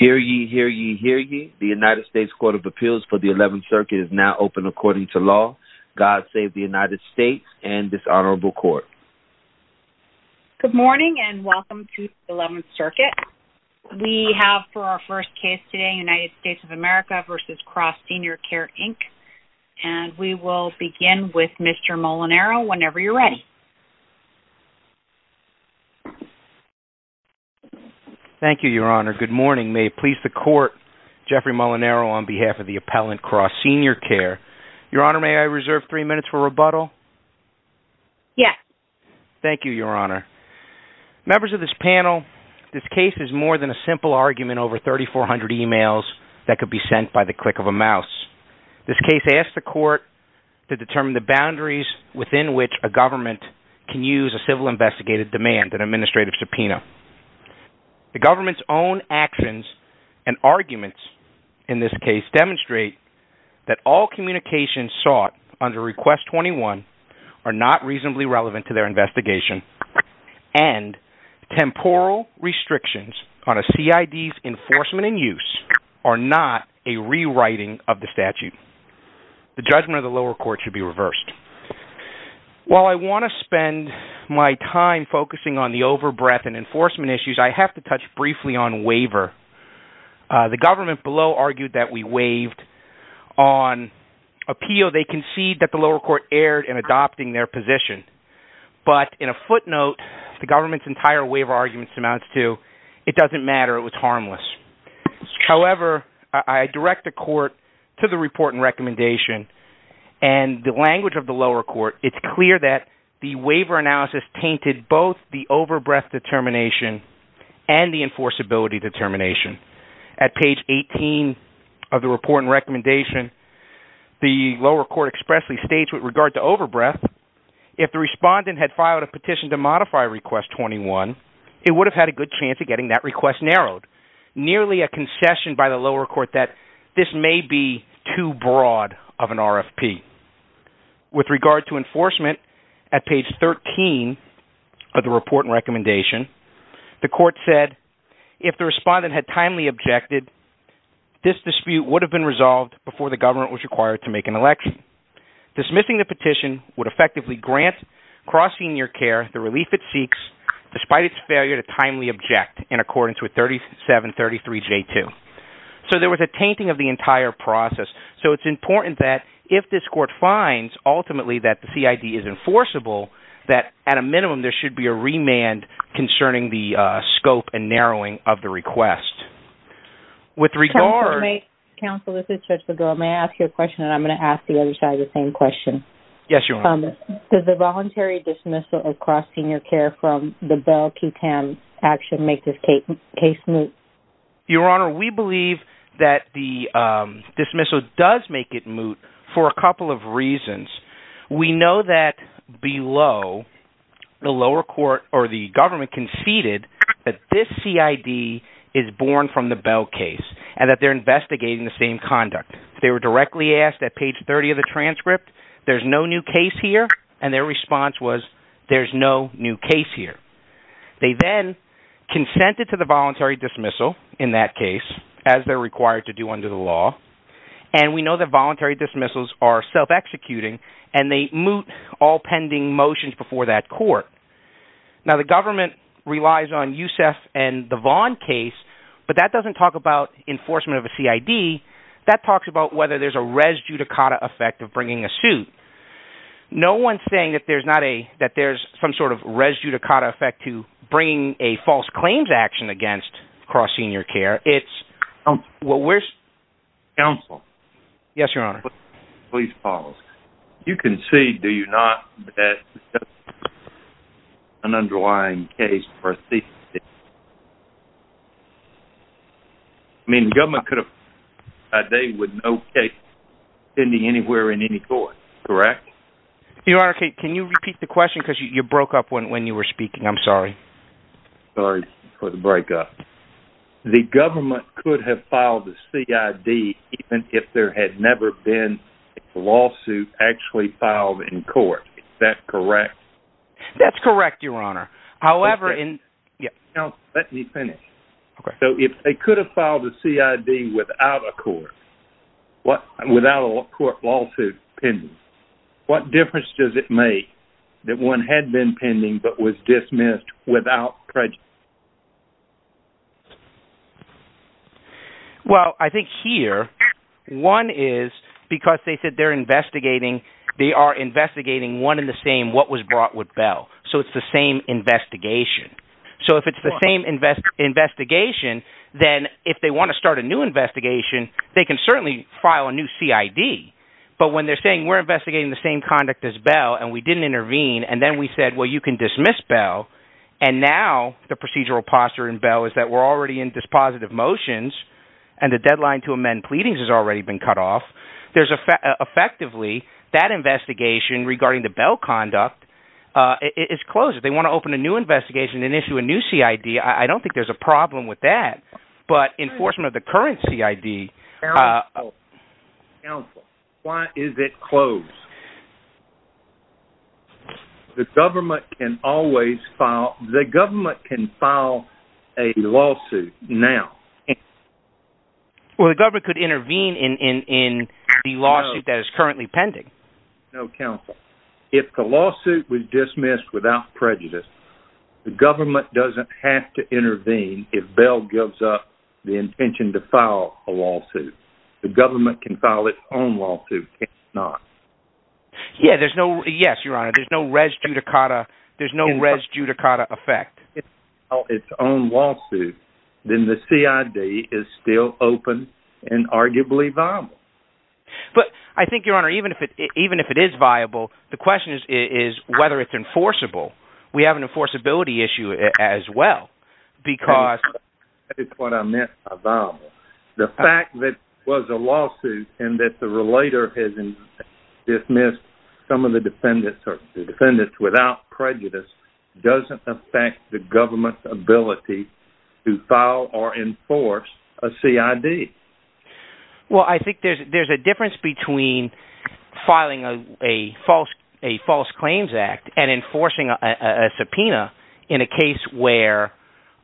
Hear ye, hear ye, hear ye, the United States Court of Appeals for the 11th Circuit is now open according to law. God save the United States and this honorable court. Good morning and welcome to the 11th Circuit. We have for our first case today United States of America v. Cross Senior Care Inc. And we will begin with Mr. Molinaro whenever you're ready. Thank you, Your Honor. Good morning. May it please the court, Jeffrey Molinaro on behalf of the appellant, Cross Senior Care. Your Honor, may I reserve three minutes for rebuttal? Yes. Thank you, Your Honor. Members of this panel, this case is more than a simple argument over 3,400 emails that could be sent by the click of a mouse. This case asks the court to determine the boundaries within which a government can use a civil investigative demand, an administrative subpoena. The government's own actions and arguments in this case demonstrate that all communications sought under Request 21 are not reasonably relevant to their investigation and temporal restrictions on a CID's enforcement and use are not a rewriting of the statute. The judgment of the lower court should be reversed. While I want to spend my time focusing on the overbreath and enforcement issues, I have to touch briefly on waiver. The government below argued that we waived on appeal. They concede that the lower court erred in adopting their position. But in a footnote, the government's entire waiver argument amounts to, it doesn't matter, it was harmless. However, I direct the court to the report and recommendation and the language of the lower court, it's clear that the waiver analysis tainted both the overbreath determination and the enforceability determination. At page 18 of the report and recommendation, the lower court expressly states with regard to overbreath, if the respondent had filed a petition to modify Request 21, it would have had a good chance of getting that request narrowed. Nearly a concession by the lower court that this may be too broad of an RFP. With regard to enforcement, at page 13 of the report and recommendation, the court said, if the respondent had timely objected, this dispute would have been resolved before the government was required to make an election. Dismissing the petition would effectively grant Cross Senior Care the relief it seeks despite its failure to timely object in accordance with 3733J2. So there was a tainting of the entire process. So it's important that if this court finds ultimately that the CID is enforceable, that at a minimum there should be a remand concerning the scope and narrowing of the request. With regard... Counsel, this is Judge Bego, may I ask you a question and I'm going to ask the other side the same question. Yes, Your Honor. Does the voluntary dismissal of Cross Senior Care from the Bell QTAM action make this case moot? Your Honor, we believe that the dismissal does make it moot for a couple of reasons. We know that below, the lower court or the government conceded that this CID is born from the Bell case and that they're investigating the same conduct. They were directly asked at page 30 of the transcript, there's no new case here, and their response was, there's no new case here. They then consented to the voluntary dismissal in that case, as they're required to do under the law, and we know that voluntary dismissals are self-executing and they moot all pending motions before that court. Now the government relies on Youssef and the Vaughn case, but that doesn't talk about enforcement of a CID. That talks about whether there's a res judicata effect of bringing a suit. No one's saying that there's some sort of res judicata effect to bringing a false claims action against Cross Senior Care. Counsel. Yes, Your Honor. Please pause. You concede, do you not, that this is an underlying case for a CID? I mean, the government could have, they would know a case, anywhere in any court, correct? Your Honor, can you repeat the question, because you broke up when you were speaking, I'm sorry. Sorry for the break up. The government could have filed the CID even if there had never been a lawsuit actually filed in court, is that correct? That's correct, Your Honor. Counsel, let me finish. So if they could have filed a CID without a court, without a court lawsuit pending, what difference does it make that one had been pending but was dismissed without prejudice? Well, I think here, one is because they said they're investigating, they are investigating one and the same what was brought with Bell. So it's the same investigation. So if it's the same investigation, then if they want to start a new investigation, they can certainly file a new CID. But when they're saying we're investigating the same conduct as Bell, and we didn't intervene, and then we said, well, you can dismiss Bell, and now the procedural posture in Bell is that we're already in dispositive motions, and the deadline to amend pleadings has already been cut off, there's effectively, that investigation regarding the Bell conduct is closed. If they want to open a new investigation and issue a new CID, I don't think there's a problem with that. But enforcement of the current CID... Counsel, why is it closed? The government can always file, the government can file a lawsuit now. Well, the government could intervene in the lawsuit that is currently pending. No, counsel. If the lawsuit was dismissed without prejudice, the government doesn't have to intervene if Bell gives up the intention to file a lawsuit. The government can file its own lawsuit, can't it not? Yeah, there's no, yes, your honor, there's no res judicata, there's no res judicata effect. If the government can file its own lawsuit, then the CID is still open and arguably viable. But I think, your honor, even if it is viable, the question is whether it's enforceable. We have an enforceability issue as well, because... That's what I meant by viable. The fact that it was a lawsuit and that the relator has dismissed some of the defendants or the defendants without prejudice doesn't affect the government's ability to file or enforce a CID. Well, I think there's a difference between filing a false claims act and enforcing a subpoena in a case where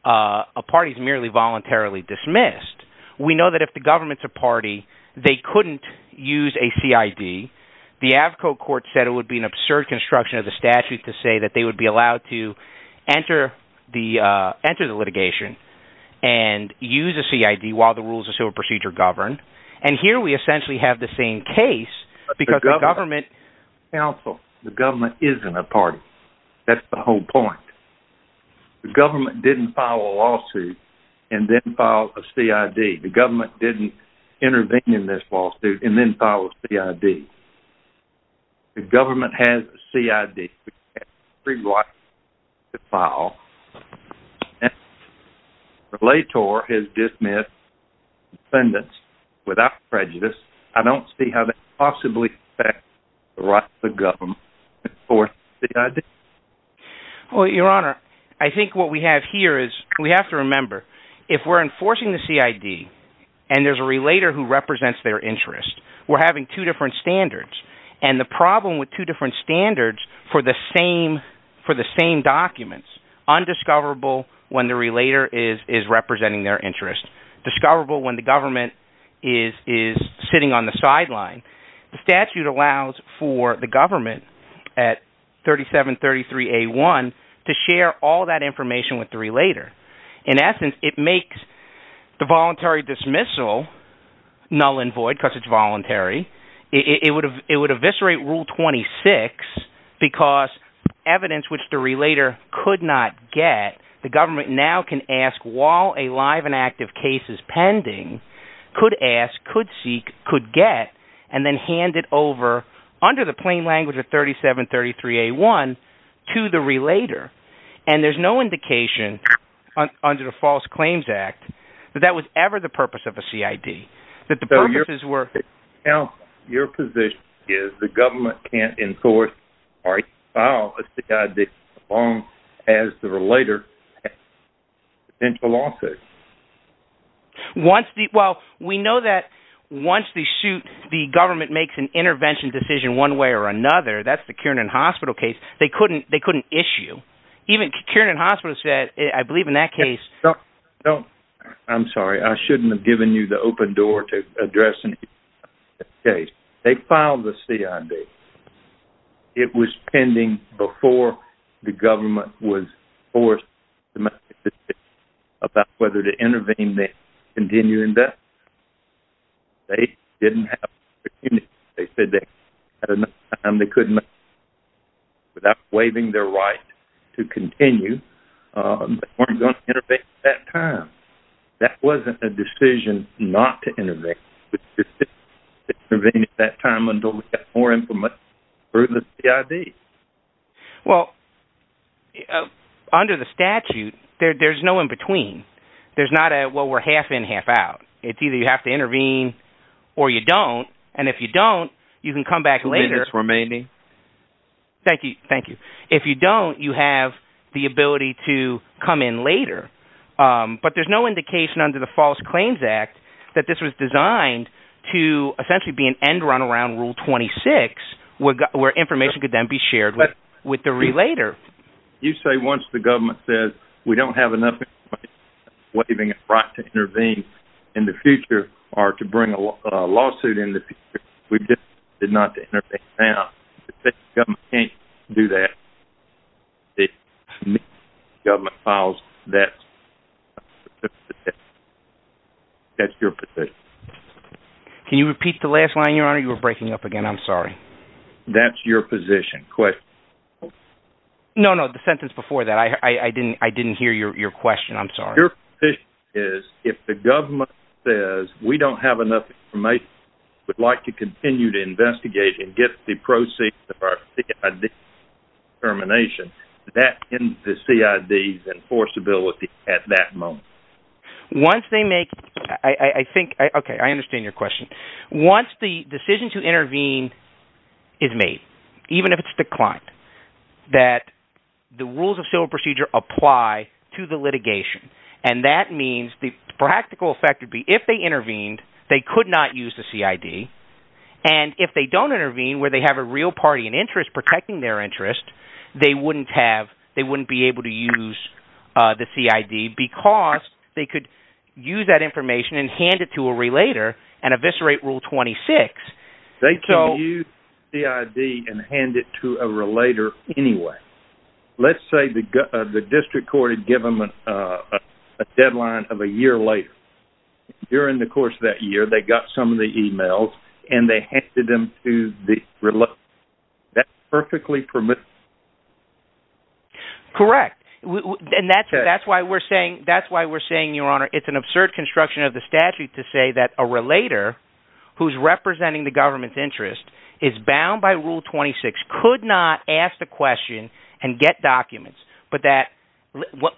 a party is merely voluntarily dismissed. We know that if the government's a party, they couldn't use a CID. The Avco court said it would be an absurd construction of the statute to say that they would be allowed to enter the litigation and use a CID while the rules of civil procedure govern. And here we essentially have the same case because the government... The government didn't intervene in this lawsuit and then file a CID. The government has a CID. Relator has dismissed defendants without prejudice. I don't see how that possibly affects the right of the government to enforce the CID. Well, your honor, I think what we have here is we have to remember, if we're enforcing the CID and there's a relator who represents their interest, we're having two different standards. And the problem with two different standards for the same documents, undiscoverable when the relator is representing their interest, discoverable when the government is sitting on the sideline. The statute allows for the government at 3733A1 to share all that information with the relator. In essence, it makes the voluntary dismissal null and void because it's voluntary. It would eviscerate Rule 26 because evidence which the relator could not get, the government now can ask while a live and active case is pending, could ask, could seek, could get, and then hand it over under the plain language of 3733A1 to the relator. And there's no indication under the False Claims Act that that was ever the purpose of a CID. Your position is the government can't enforce the CID as long as the relator has potential lawsuits. Well, we know that once the government makes an intervention decision one way or another, that's the Kiernan Hospital case, they couldn't issue. Even Kiernan Hospital said, I believe in that case... I'm sorry, I shouldn't have given you the open door to address this case. They filed the CID. It was pending before the government was forced to make a decision about whether to intervene and continue investigation. They didn't have the opportunity. They said they had enough time, they couldn't, without waiving their right to continue, they weren't going to intervene at that time. That wasn't a decision not to intervene at that time until we got more information through the CID. Well, under the statute, there's no in-between. There's not a, well, we're half-in, half-out. It's either you have to intervene or you don't. And if you don't, you can come back later. Two minutes remaining. Thank you, thank you. If you don't, you have the ability to come in later. But there's no indication under the False Claims Act that this was designed to essentially be an end-run around Rule 26, where information could then be shared with the relator. You say once the government says, we don't have enough information, waiving a right to intervene in the future, or to bring a lawsuit in the future, we just did not intervene now. If the government can't do that, if the government files that, that's your position. Can you repeat the last line, Your Honor? You were breaking up again. I'm sorry. That's your position. No, no, the sentence before that. I didn't hear your question. I'm sorry. Your position is, if the government says, we don't have enough information, would like to continue to investigate and get the proceeds of our CID determination, that ends the CID's enforceability at that moment. Once they make, I think, okay, I understand your question. Once the decision to intervene is made, even if it's declined, that the rules of civil procedure apply to the litigation. And that means the practical effect would be if they intervened, they could not use the CID. And if they don't intervene where they have a real party and interest protecting their interest, they wouldn't be able to use the CID because they could use that information and hand it to a relator and eviscerate Rule 26. They can use the CID and hand it to a relator anyway. Let's say the district court had given them a deadline of a year later. During the course of that year, they got some of the emails and they handed them to the relator. That's perfectly permissible. Correct. And that's why we're saying, Your Honor, it's an absurd construction of the statute to say that a relator who's representing the government's interest is bound by Rule 26, could not ask the question and get documents.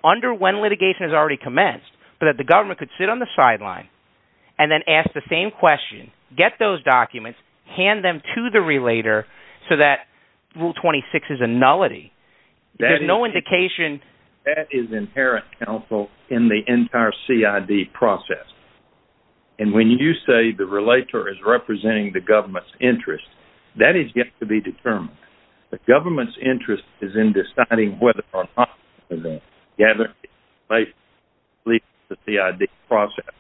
Under when litigation has already commenced, but that the government could sit on the sideline and then ask the same question, get those documents, hand them to the relator so that Rule 26 is a nullity. There's no indication. That is inherent counsel in the entire CID process. And when you say the relator is representing the government's interest, that has yet to be determined. The government's interest is in deciding whether or not to gather the documents and release them to the CID process.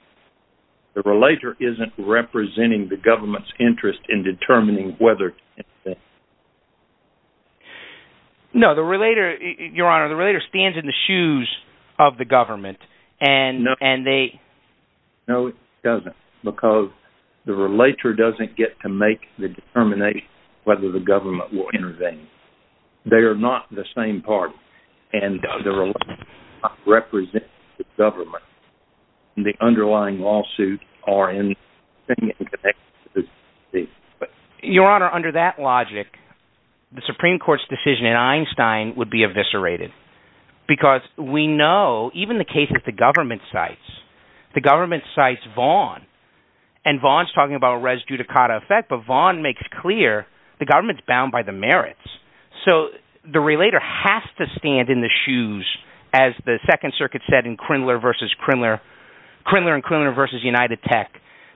The relator isn't representing the government's interest in determining whether to hand them to the CID process. No, Your Honor, the relator stands in the shoes of the government. No, it doesn't. Because the relator doesn't get to make the determination whether the government will intervene. They are not the same party. And the relator does not represent the government. And the underlying lawsuits are inextricably linked. Your Honor, under that logic, the Supreme Court's decision in Einstein would be eviscerated. Because we know, even the cases the government cites, the government cites Vaughan. And Vaughan's talking about a res judicata effect, but Vaughan makes clear the government's bound by the merits. So the relator has to stand in the shoes, as the Second Circuit said in Crindler v. Crindler, Crindler v. United Tech,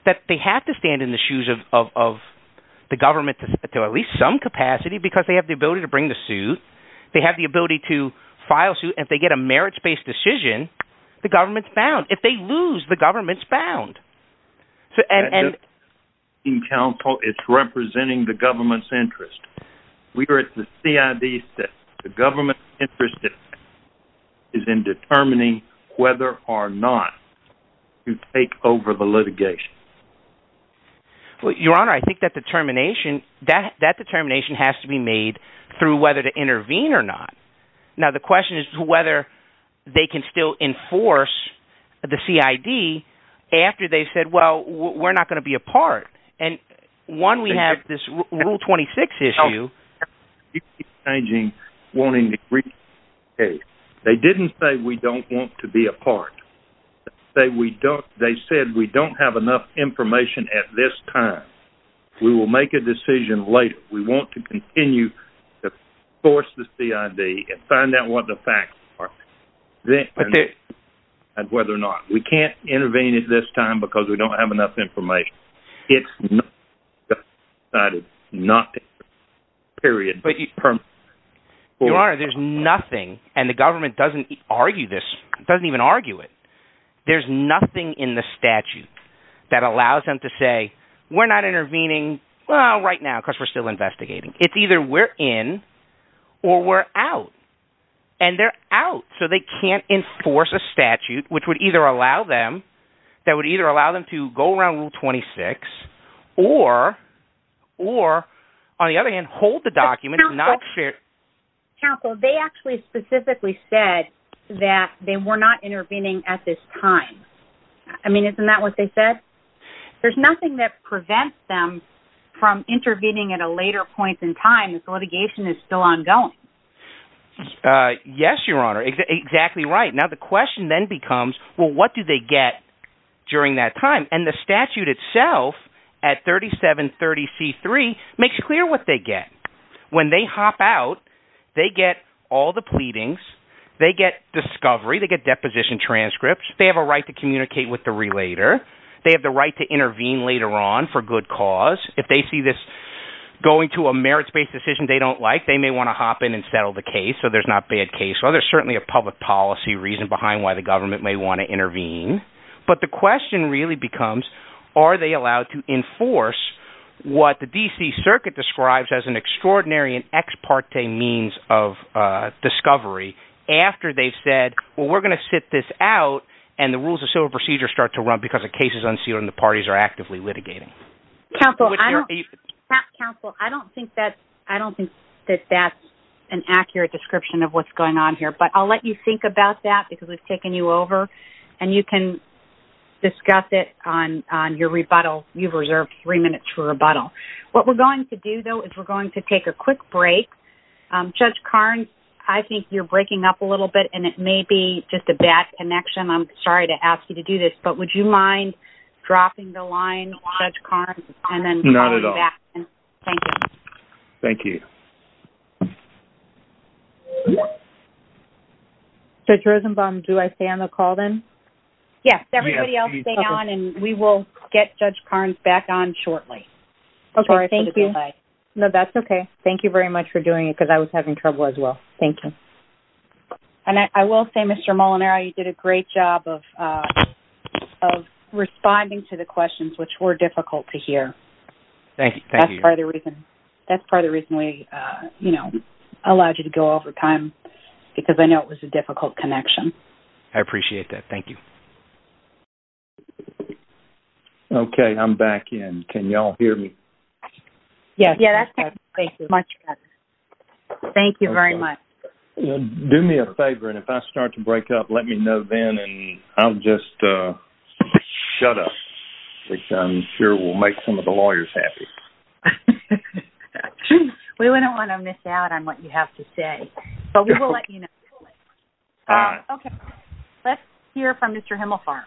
that they have to stand in the shoes of the government to at least some capacity because they have the ability to bring the suit. They have the ability to file suit. And if they get a merits-based decision, the government's bound. If they lose, the government's bound. In counsel, it's representing the government's interest. We are at the CID step. The government's interest is in determining whether or not to take over the litigation. Your Honor, I think that determination has to be made through whether to intervene or not. Now the question is whether they can still enforce the CID after they've said, well, we're not going to be a part. And one, we have this Rule 26 issue. They didn't say we don't want to be a part. They said we don't have enough information at this time. We will make a decision later. We want to continue to force the CID and find out what the facts are and whether or not. We can't intervene at this time because we don't have enough information. It's not decided not to intervene, period. Your Honor, there's nothing, and the government doesn't argue this, doesn't even argue it. There's nothing in the statute that allows them to say, we're not intervening right now because we're still investigating. It's either we're in or we're out. And they're out, so they can't enforce a statute that would either allow them to go around Rule 26 or, on the other hand, hold the document and not share it. Counsel, they actually specifically said that they were not intervening at this time. I mean, isn't that what they said? There's nothing that prevents them from intervening at a later point in time if the litigation is still ongoing. Yes, Your Honor, exactly right. Now the question then becomes, well, what do they get during that time? And the statute itself at 3730C3 makes clear what they get. When they hop out, they get all the pleadings. They get discovery. They get deposition transcripts. They have a right to communicate with the relator. They have the right to intervene later on for good cause. If they see this going to a merits-based decision they don't like, they may want to hop in and settle the case so there's not bad case. Well, there's certainly a public policy reason behind why the government may want to intervene. But the question really becomes, are they allowed to enforce what the D.C. Circuit describes as an extraordinary and ex parte means of discovery after they've said, well, we're going to sit this out and the rules of civil procedure start to run because the case is unsealed and the parties are actively litigating? Counsel, I don't think that that's an accurate description of what's going on here. But I'll let you think about that because we've taken you over and you can discuss it on your rebuttal. You've reserved three minutes for rebuttal. What we're going to do, though, is we're going to take a quick break. Judge Carnes, I think you're breaking up a little bit and it may be just a bad connection. I'm sorry to ask you to do this. But would you mind dropping the line, Judge Carnes? Not at all. Thank you. Thank you. Judge Rosenbaum, do I stay on the call then? Yes. Everybody else stay on and we will get Judge Carnes back on shortly. Okay. Thank you. No, that's okay. Thank you very much for doing it because I was having trouble as well. Thank you. And I will say, Mr. Molinaro, you did a great job of responding to the questions, which were difficult to hear. Thank you. That's part of the reason we, you know, allowed you to go over time because I know it was a difficult connection. I appreciate that. Thank you. Okay. I'm back in. Can you all hear me? Yes. Thank you very much. Do me a favor. And if I start to break up, let me know then and I'll just shut up, which I'm sure will make some of the lawyers happy. We wouldn't want to miss out on what you have to say. But we will let you know. All right. Okay. Let's hear from Mr. Himmelfarb.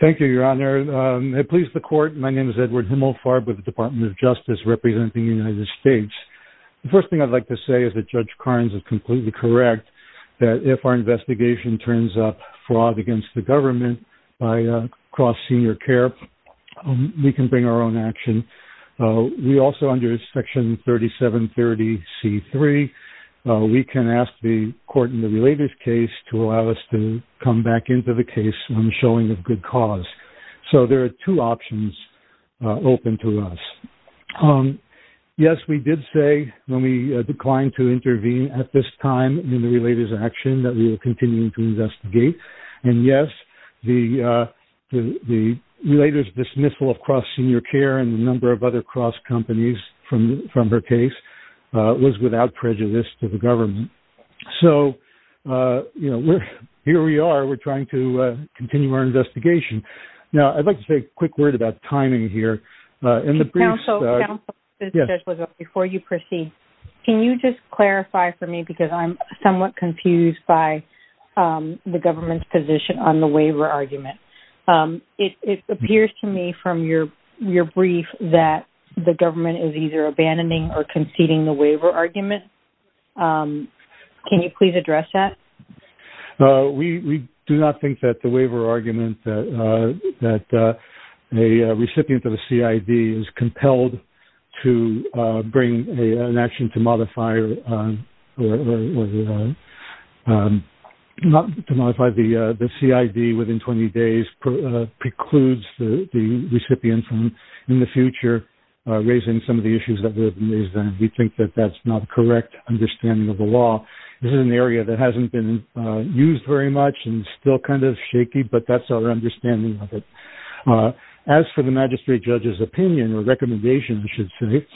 Thank you, Your Honor. It pleases the Court. My name is Edward Himmelfarb with the Department of Justice representing the United States. The first thing I'd like to say is that Judge Carnes is completely correct that if our investigation turns up fraud against the government by cross-senior care, we can bring our own action. We also under Section 3730C3, we can ask the court in the related case to allow us to come back into the case when showing of good cause. So there are two options open to us. Yes, we did say when we declined to intervene at this time in the related action that we will continue to investigate. And, yes, the related dismissal of cross-senior care and a number of other cross-companies from her case was without prejudice to the government. So, you know, here we are. We're trying to continue our investigation. Now, I'd like to say a quick word about timing here. Counsel, before you proceed, can you just clarify for me because I'm somewhat confused by the government's position on the waiver argument. It appears to me from your brief that the government is either abandoning or conceding the waiver argument. Can you please address that? We do not think that the waiver argument that a recipient of a CID is compelled to bring an action to modify the CID within 20 days precludes the recipient from, in the future, raising some of the issues that would have been raised then. We think that that's not correct understanding of the law. This is an area that hasn't been used very much and still kind of shaky, but that's our understanding of it. As for the magistrate judge's opinion or recommendation, I should say,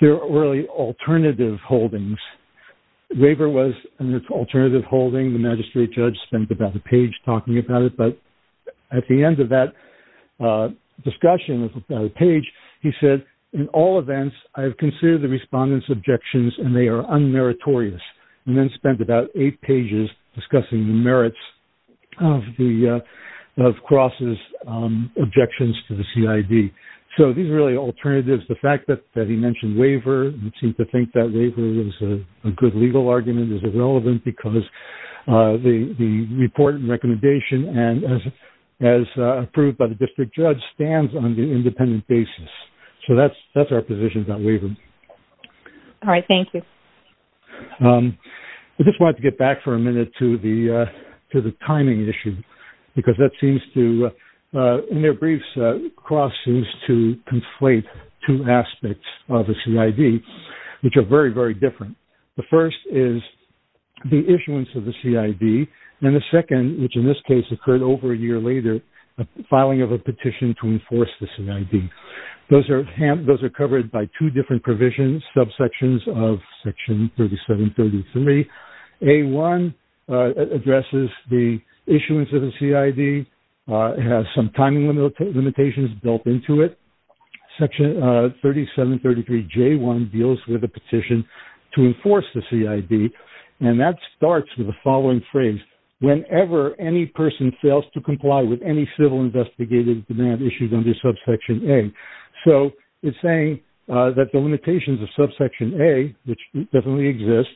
there are really alternative holdings. Waiver was an alternative holding. The magistrate judge spent about a page talking about it. At the end of that discussion page, he said, in all events, I have considered the respondent's objections and they are unmeritorious. He then spent about eight pages discussing the merits of Cross's objections to the CID. These are really alternatives. The fact that he mentioned waiver, we seem to think that waiver is a good legal argument. It's relevant because the report and recommendation, as approved by the district judge, stands on an independent basis. That's our position on waiver. All right. Thank you. I just wanted to get back for a minute to the timing issue because that seems to, in their briefs, Cross seems to conflate two aspects of the CID, which are very, very different. The first is the issuance of the CID and the second, which in this case occurred over a year later, filing of a petition to enforce the CID. Those are covered by two different provisions, subsections of Section 3733. A-1 addresses the issuance of the CID. It has some timing limitations built into it. Section 3733J-1 deals with a petition to enforce the CID. That starts with the following phrase, whenever any person fails to comply with any civil investigative demand issued under subsection A. It's saying that the limitations of subsection A, which definitely exists,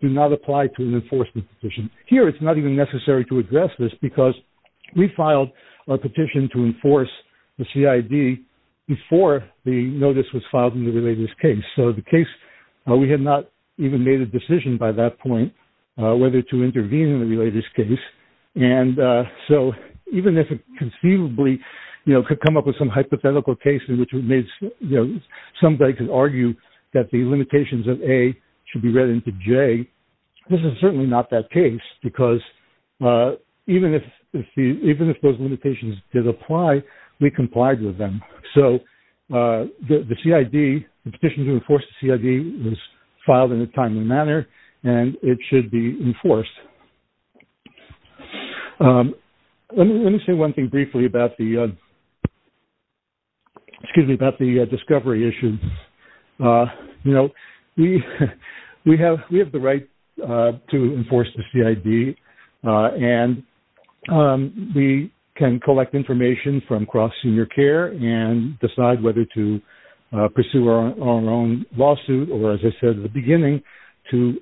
do not apply to an enforcement petition. Here, it's not even necessary to address this because we filed a petition to enforce the CID before the notice was filed in the related case. The case, we had not even made a decision by that point whether to intervene in the related case. Even if it conceivably could come up with some hypothetical case in which somebody could argue that the limitations of A should be read into J, this is certainly not that case because even if those limitations did apply, we complied with them. The CID, the petition to enforce the CID was filed in a timely manner, and it should be enforced. Let me say one thing briefly about the discovery issue. We have the right to enforce the CID, and we can collect information from cross-senior care and decide whether to pursue our own lawsuit or, as I said at the beginning, to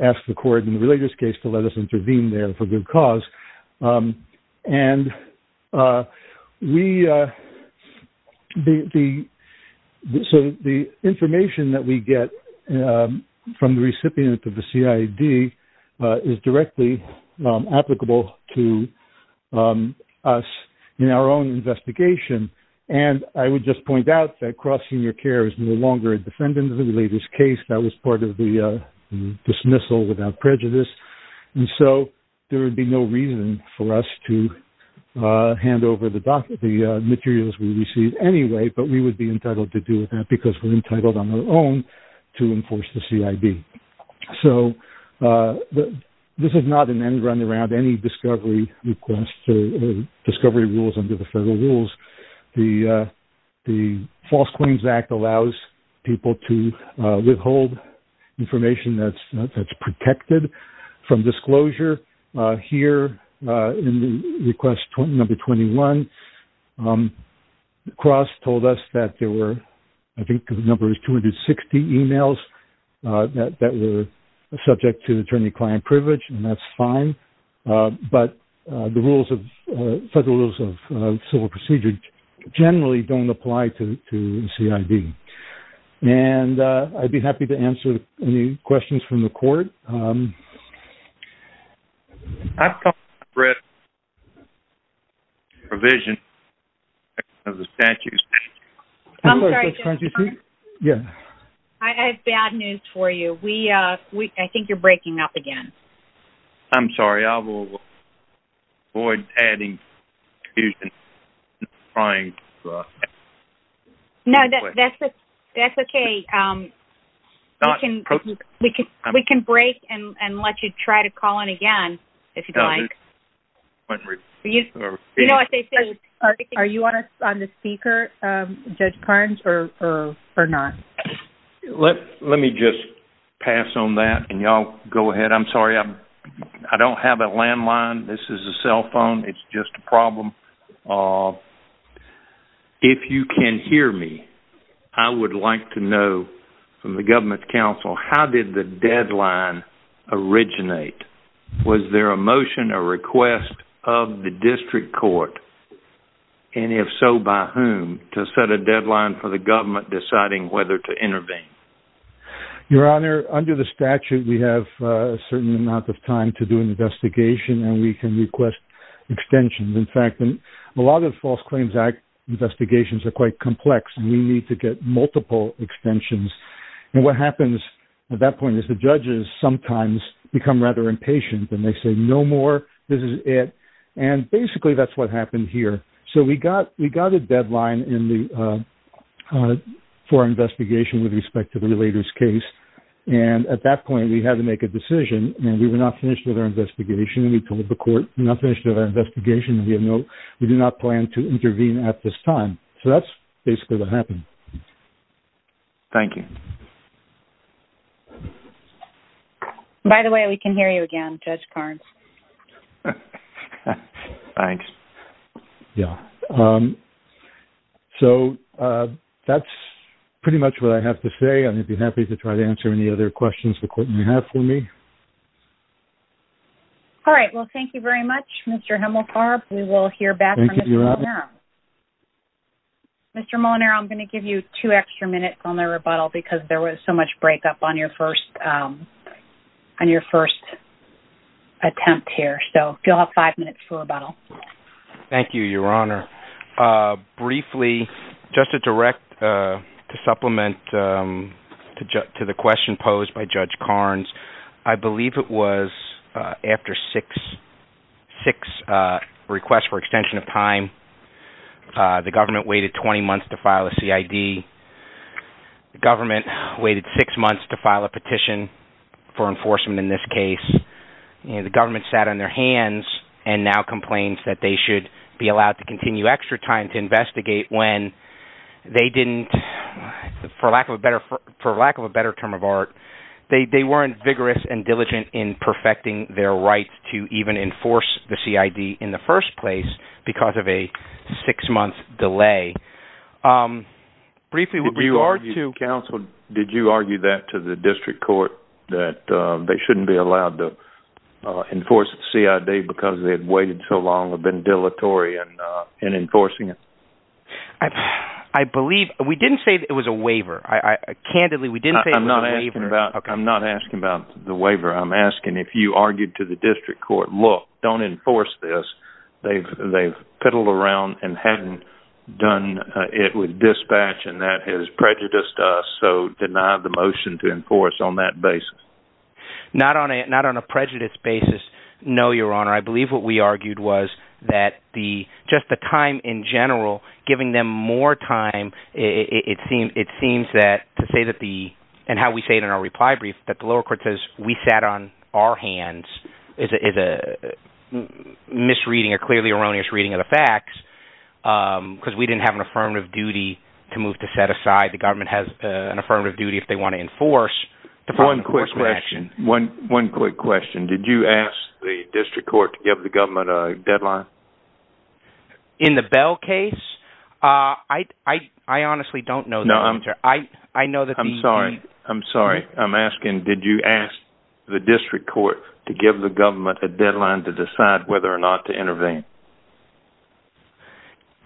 ask the court in the related case to let us intervene there for good cause. The information that we get from the recipient of the CID is directly applicable to us in our own investigation, and I would just point out that cross-senior care is no longer a defendant in the related case. That was part of the dismissal without prejudice, and so there would be no reason for us to hand over the materials we received anyway, but we would be entitled to do that because we're entitled on our own to enforce the CID. This is not an end-runaround, any discovery request or discovery rules under the federal rules. The False Claims Act allows people to withhold information that's protected from disclosure. Here in request number 21, Cross told us that there were, I think the number is 260 emails that were subject to attorney-client privilege, and that's fine. But the federal rules of civil procedure generally don't apply to CID. And I'd be happy to answer any questions from the court. I've come to read the provision of the statute. I'm sorry, Jim. Yeah. I have bad news for you. I think you're breaking up again. I'm sorry. I will avoid adding confusion. No, that's okay. We can break and let you try to call in again if you'd like. Are you on the speaker, Judge Carnes, or not? Let me just pass on that, and y'all go ahead. I'm sorry, I don't have a landline. This is a cell phone. It's just a problem. If you can hear me, I would like to know from the government counsel, how did the deadline originate? Was there a motion or request of the district court, and if so, by whom, to set a deadline for the government deciding whether to intervene? Your Honor, under the statute, we have a certain amount of time to do an investigation, and we can request extensions. In fact, a lot of False Claims Act investigations are quite complex, and we need to get multiple extensions. What happens at that point is the judges sometimes become rather impatient, and they say, no more, this is it. Basically, that's what happened here. We got a deadline for investigation with respect to the relator's case. At that point, we had to make a decision, and we were not finished with our investigation. We told the court, we're not finished with our investigation, and we do not plan to intervene at this time. That's basically what happened. Thank you. By the way, we can hear you again, Judge Carnes. Thanks. Yeah. So, that's pretty much what I have to say. I'd be happy to try to answer any other questions the court may have for me. All right. Well, thank you very much, Mr. Hemmelkarp. We will hear back from Mr. Molinaro. Thank you, Your Honor. Mr. Molinaro, I'm going to give you two extra minutes on the rebuttal, because there was so much breakup on your first attempt here. So, you'll have five minutes for rebuttal. Thank you, Your Honor. Briefly, just to direct, to supplement to the question posed by Judge Carnes, I believe it was after six requests for extension of time. The government waited 20 months to file a CID. The government waited six months to file a petition for enforcement in this case. The government sat on their hands and now complains that they should be allowed to continue extra time to investigate when they didn't, for lack of a better term of art, they weren't vigorous and diligent in perfecting their right to even enforce the CID in the first place because of a six-month delay. Did you argue that to the district court, that they shouldn't be allowed to enforce the CID because they had waited so long, had been dilatory in enforcing it? I believe – we didn't say it was a waiver. Candidly, we didn't say it was a waiver. I'm not asking about the waiver. I'm asking if you argued to the district court, look, don't enforce this. They've piddled around and haven't done it with dispatch and that has prejudiced us, so deny the motion to enforce on that basis. Not on a prejudice basis, no, Your Honor. I believe what we argued was that just the time in general, giving them more time, it seems that to say that the – and how we say it in our reply brief – that the lower court says we sat on our hands is a misreading, a clearly erroneous reading of the facts because we didn't have an affirmative duty to move to set aside. The government has an affirmative duty if they want to enforce. One quick question. One quick question. Did you ask the district court to give the government a deadline? In the Bell case? I honestly don't know the answer. I'm sorry. I'm asking, did you ask the district court to give the government a deadline to decide whether or not to intervene?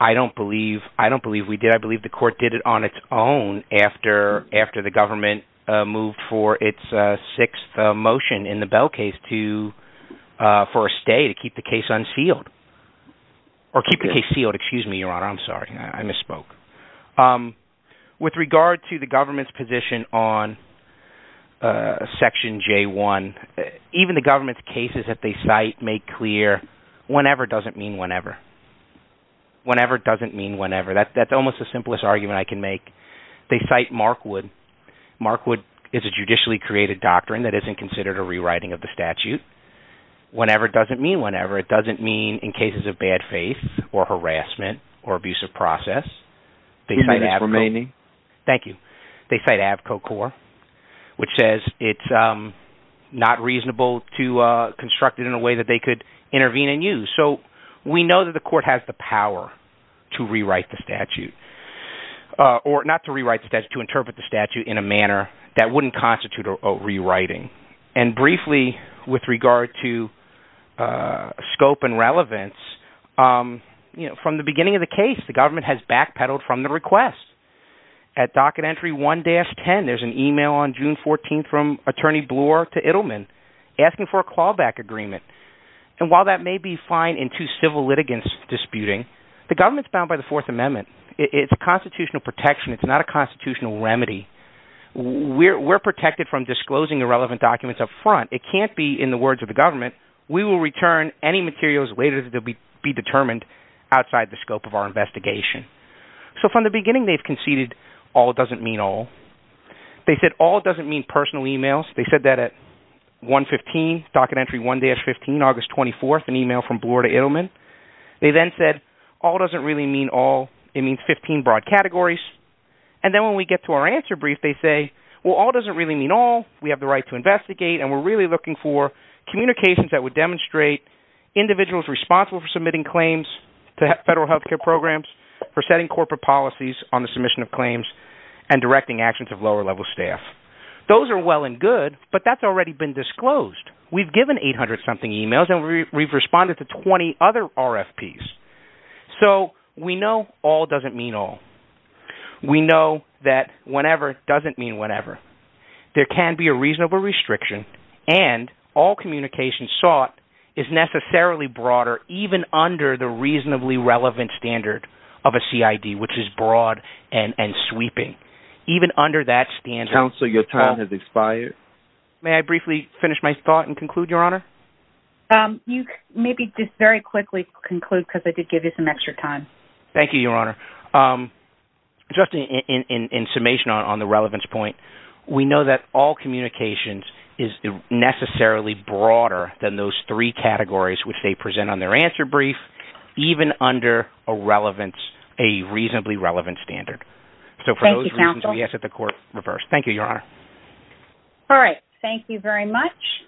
I don't believe we did. I believe the court did it on its own after the government moved for its sixth motion in the Bell case for a stay to keep the case unsealed. Or keep the case sealed. Excuse me, Your Honor. I'm sorry. I misspoke. With regard to the government's position on Section J1, even the government's cases that they cite make clear whenever doesn't mean whenever. Whenever doesn't mean whenever. That's almost the simplest argument I can make. They cite Markwood. Markwood is a judicially created doctrine that isn't considered a rewriting of the statute. Whenever doesn't mean whenever. It doesn't mean in cases of bad faith or harassment or abusive process. Excuse me, Your Honor. Thank you. They cite Avco Corp. which says it's not reasonable to construct it in a way that they could intervene and use. So we know that the court has the power to rewrite the statute. Or not to rewrite the statute, to interpret the statute in a manner that wouldn't constitute a rewriting. And briefly, with regard to scope and relevance, from the beginning of the case, the government has backpedaled from the request. At docket entry 1-10, there's an email on June 14 from Attorney Bloor to Ittleman asking for a callback agreement. And while that may be fine in two civil litigants disputing, the government's bound by the Fourth Amendment. It's a constitutional protection. It's not a constitutional remedy. We're protected from disclosing irrelevant documents up front. It can't be in the words of the government. We will return any materials later that will be determined outside the scope of our investigation. So from the beginning, they've conceded all doesn't mean all. They said all doesn't mean personal emails. They said that at 1-15, docket entry 1-15, August 24, an email from Bloor to Ittleman. They then said all doesn't really mean all. It means 15 broad categories. And then when we get to our answer brief, they say, well, all doesn't really mean all. We have the right to investigate, and we're really looking for communications that would demonstrate individuals responsible for submitting claims to federal health care programs, for setting corporate policies on the submission of claims, and directing actions of lower-level staff. Those are well and good, but that's already been disclosed. We've given 800-something emails, and we've responded to 20 other RFPs. So we know all doesn't mean all. We know that whenever doesn't mean whenever. There can be a reasonable restriction, and all communication sought is necessarily broader, even under the reasonably relevant standard of a CID, which is broad and sweeping. Even under that standard... Counsel, your time has expired. May I briefly finish my thought and conclude, Your Honor? You maybe just very quickly conclude, because I did give you some extra time. Thank you, Your Honor. Just in summation on the relevance point, we know that all communications is necessarily broader than those three categories which they present on their answer brief, even under a reasonably relevant standard. So for those reasons, we ask that the Court reverse. Thank you, Your Honor. All right. Thank you very much.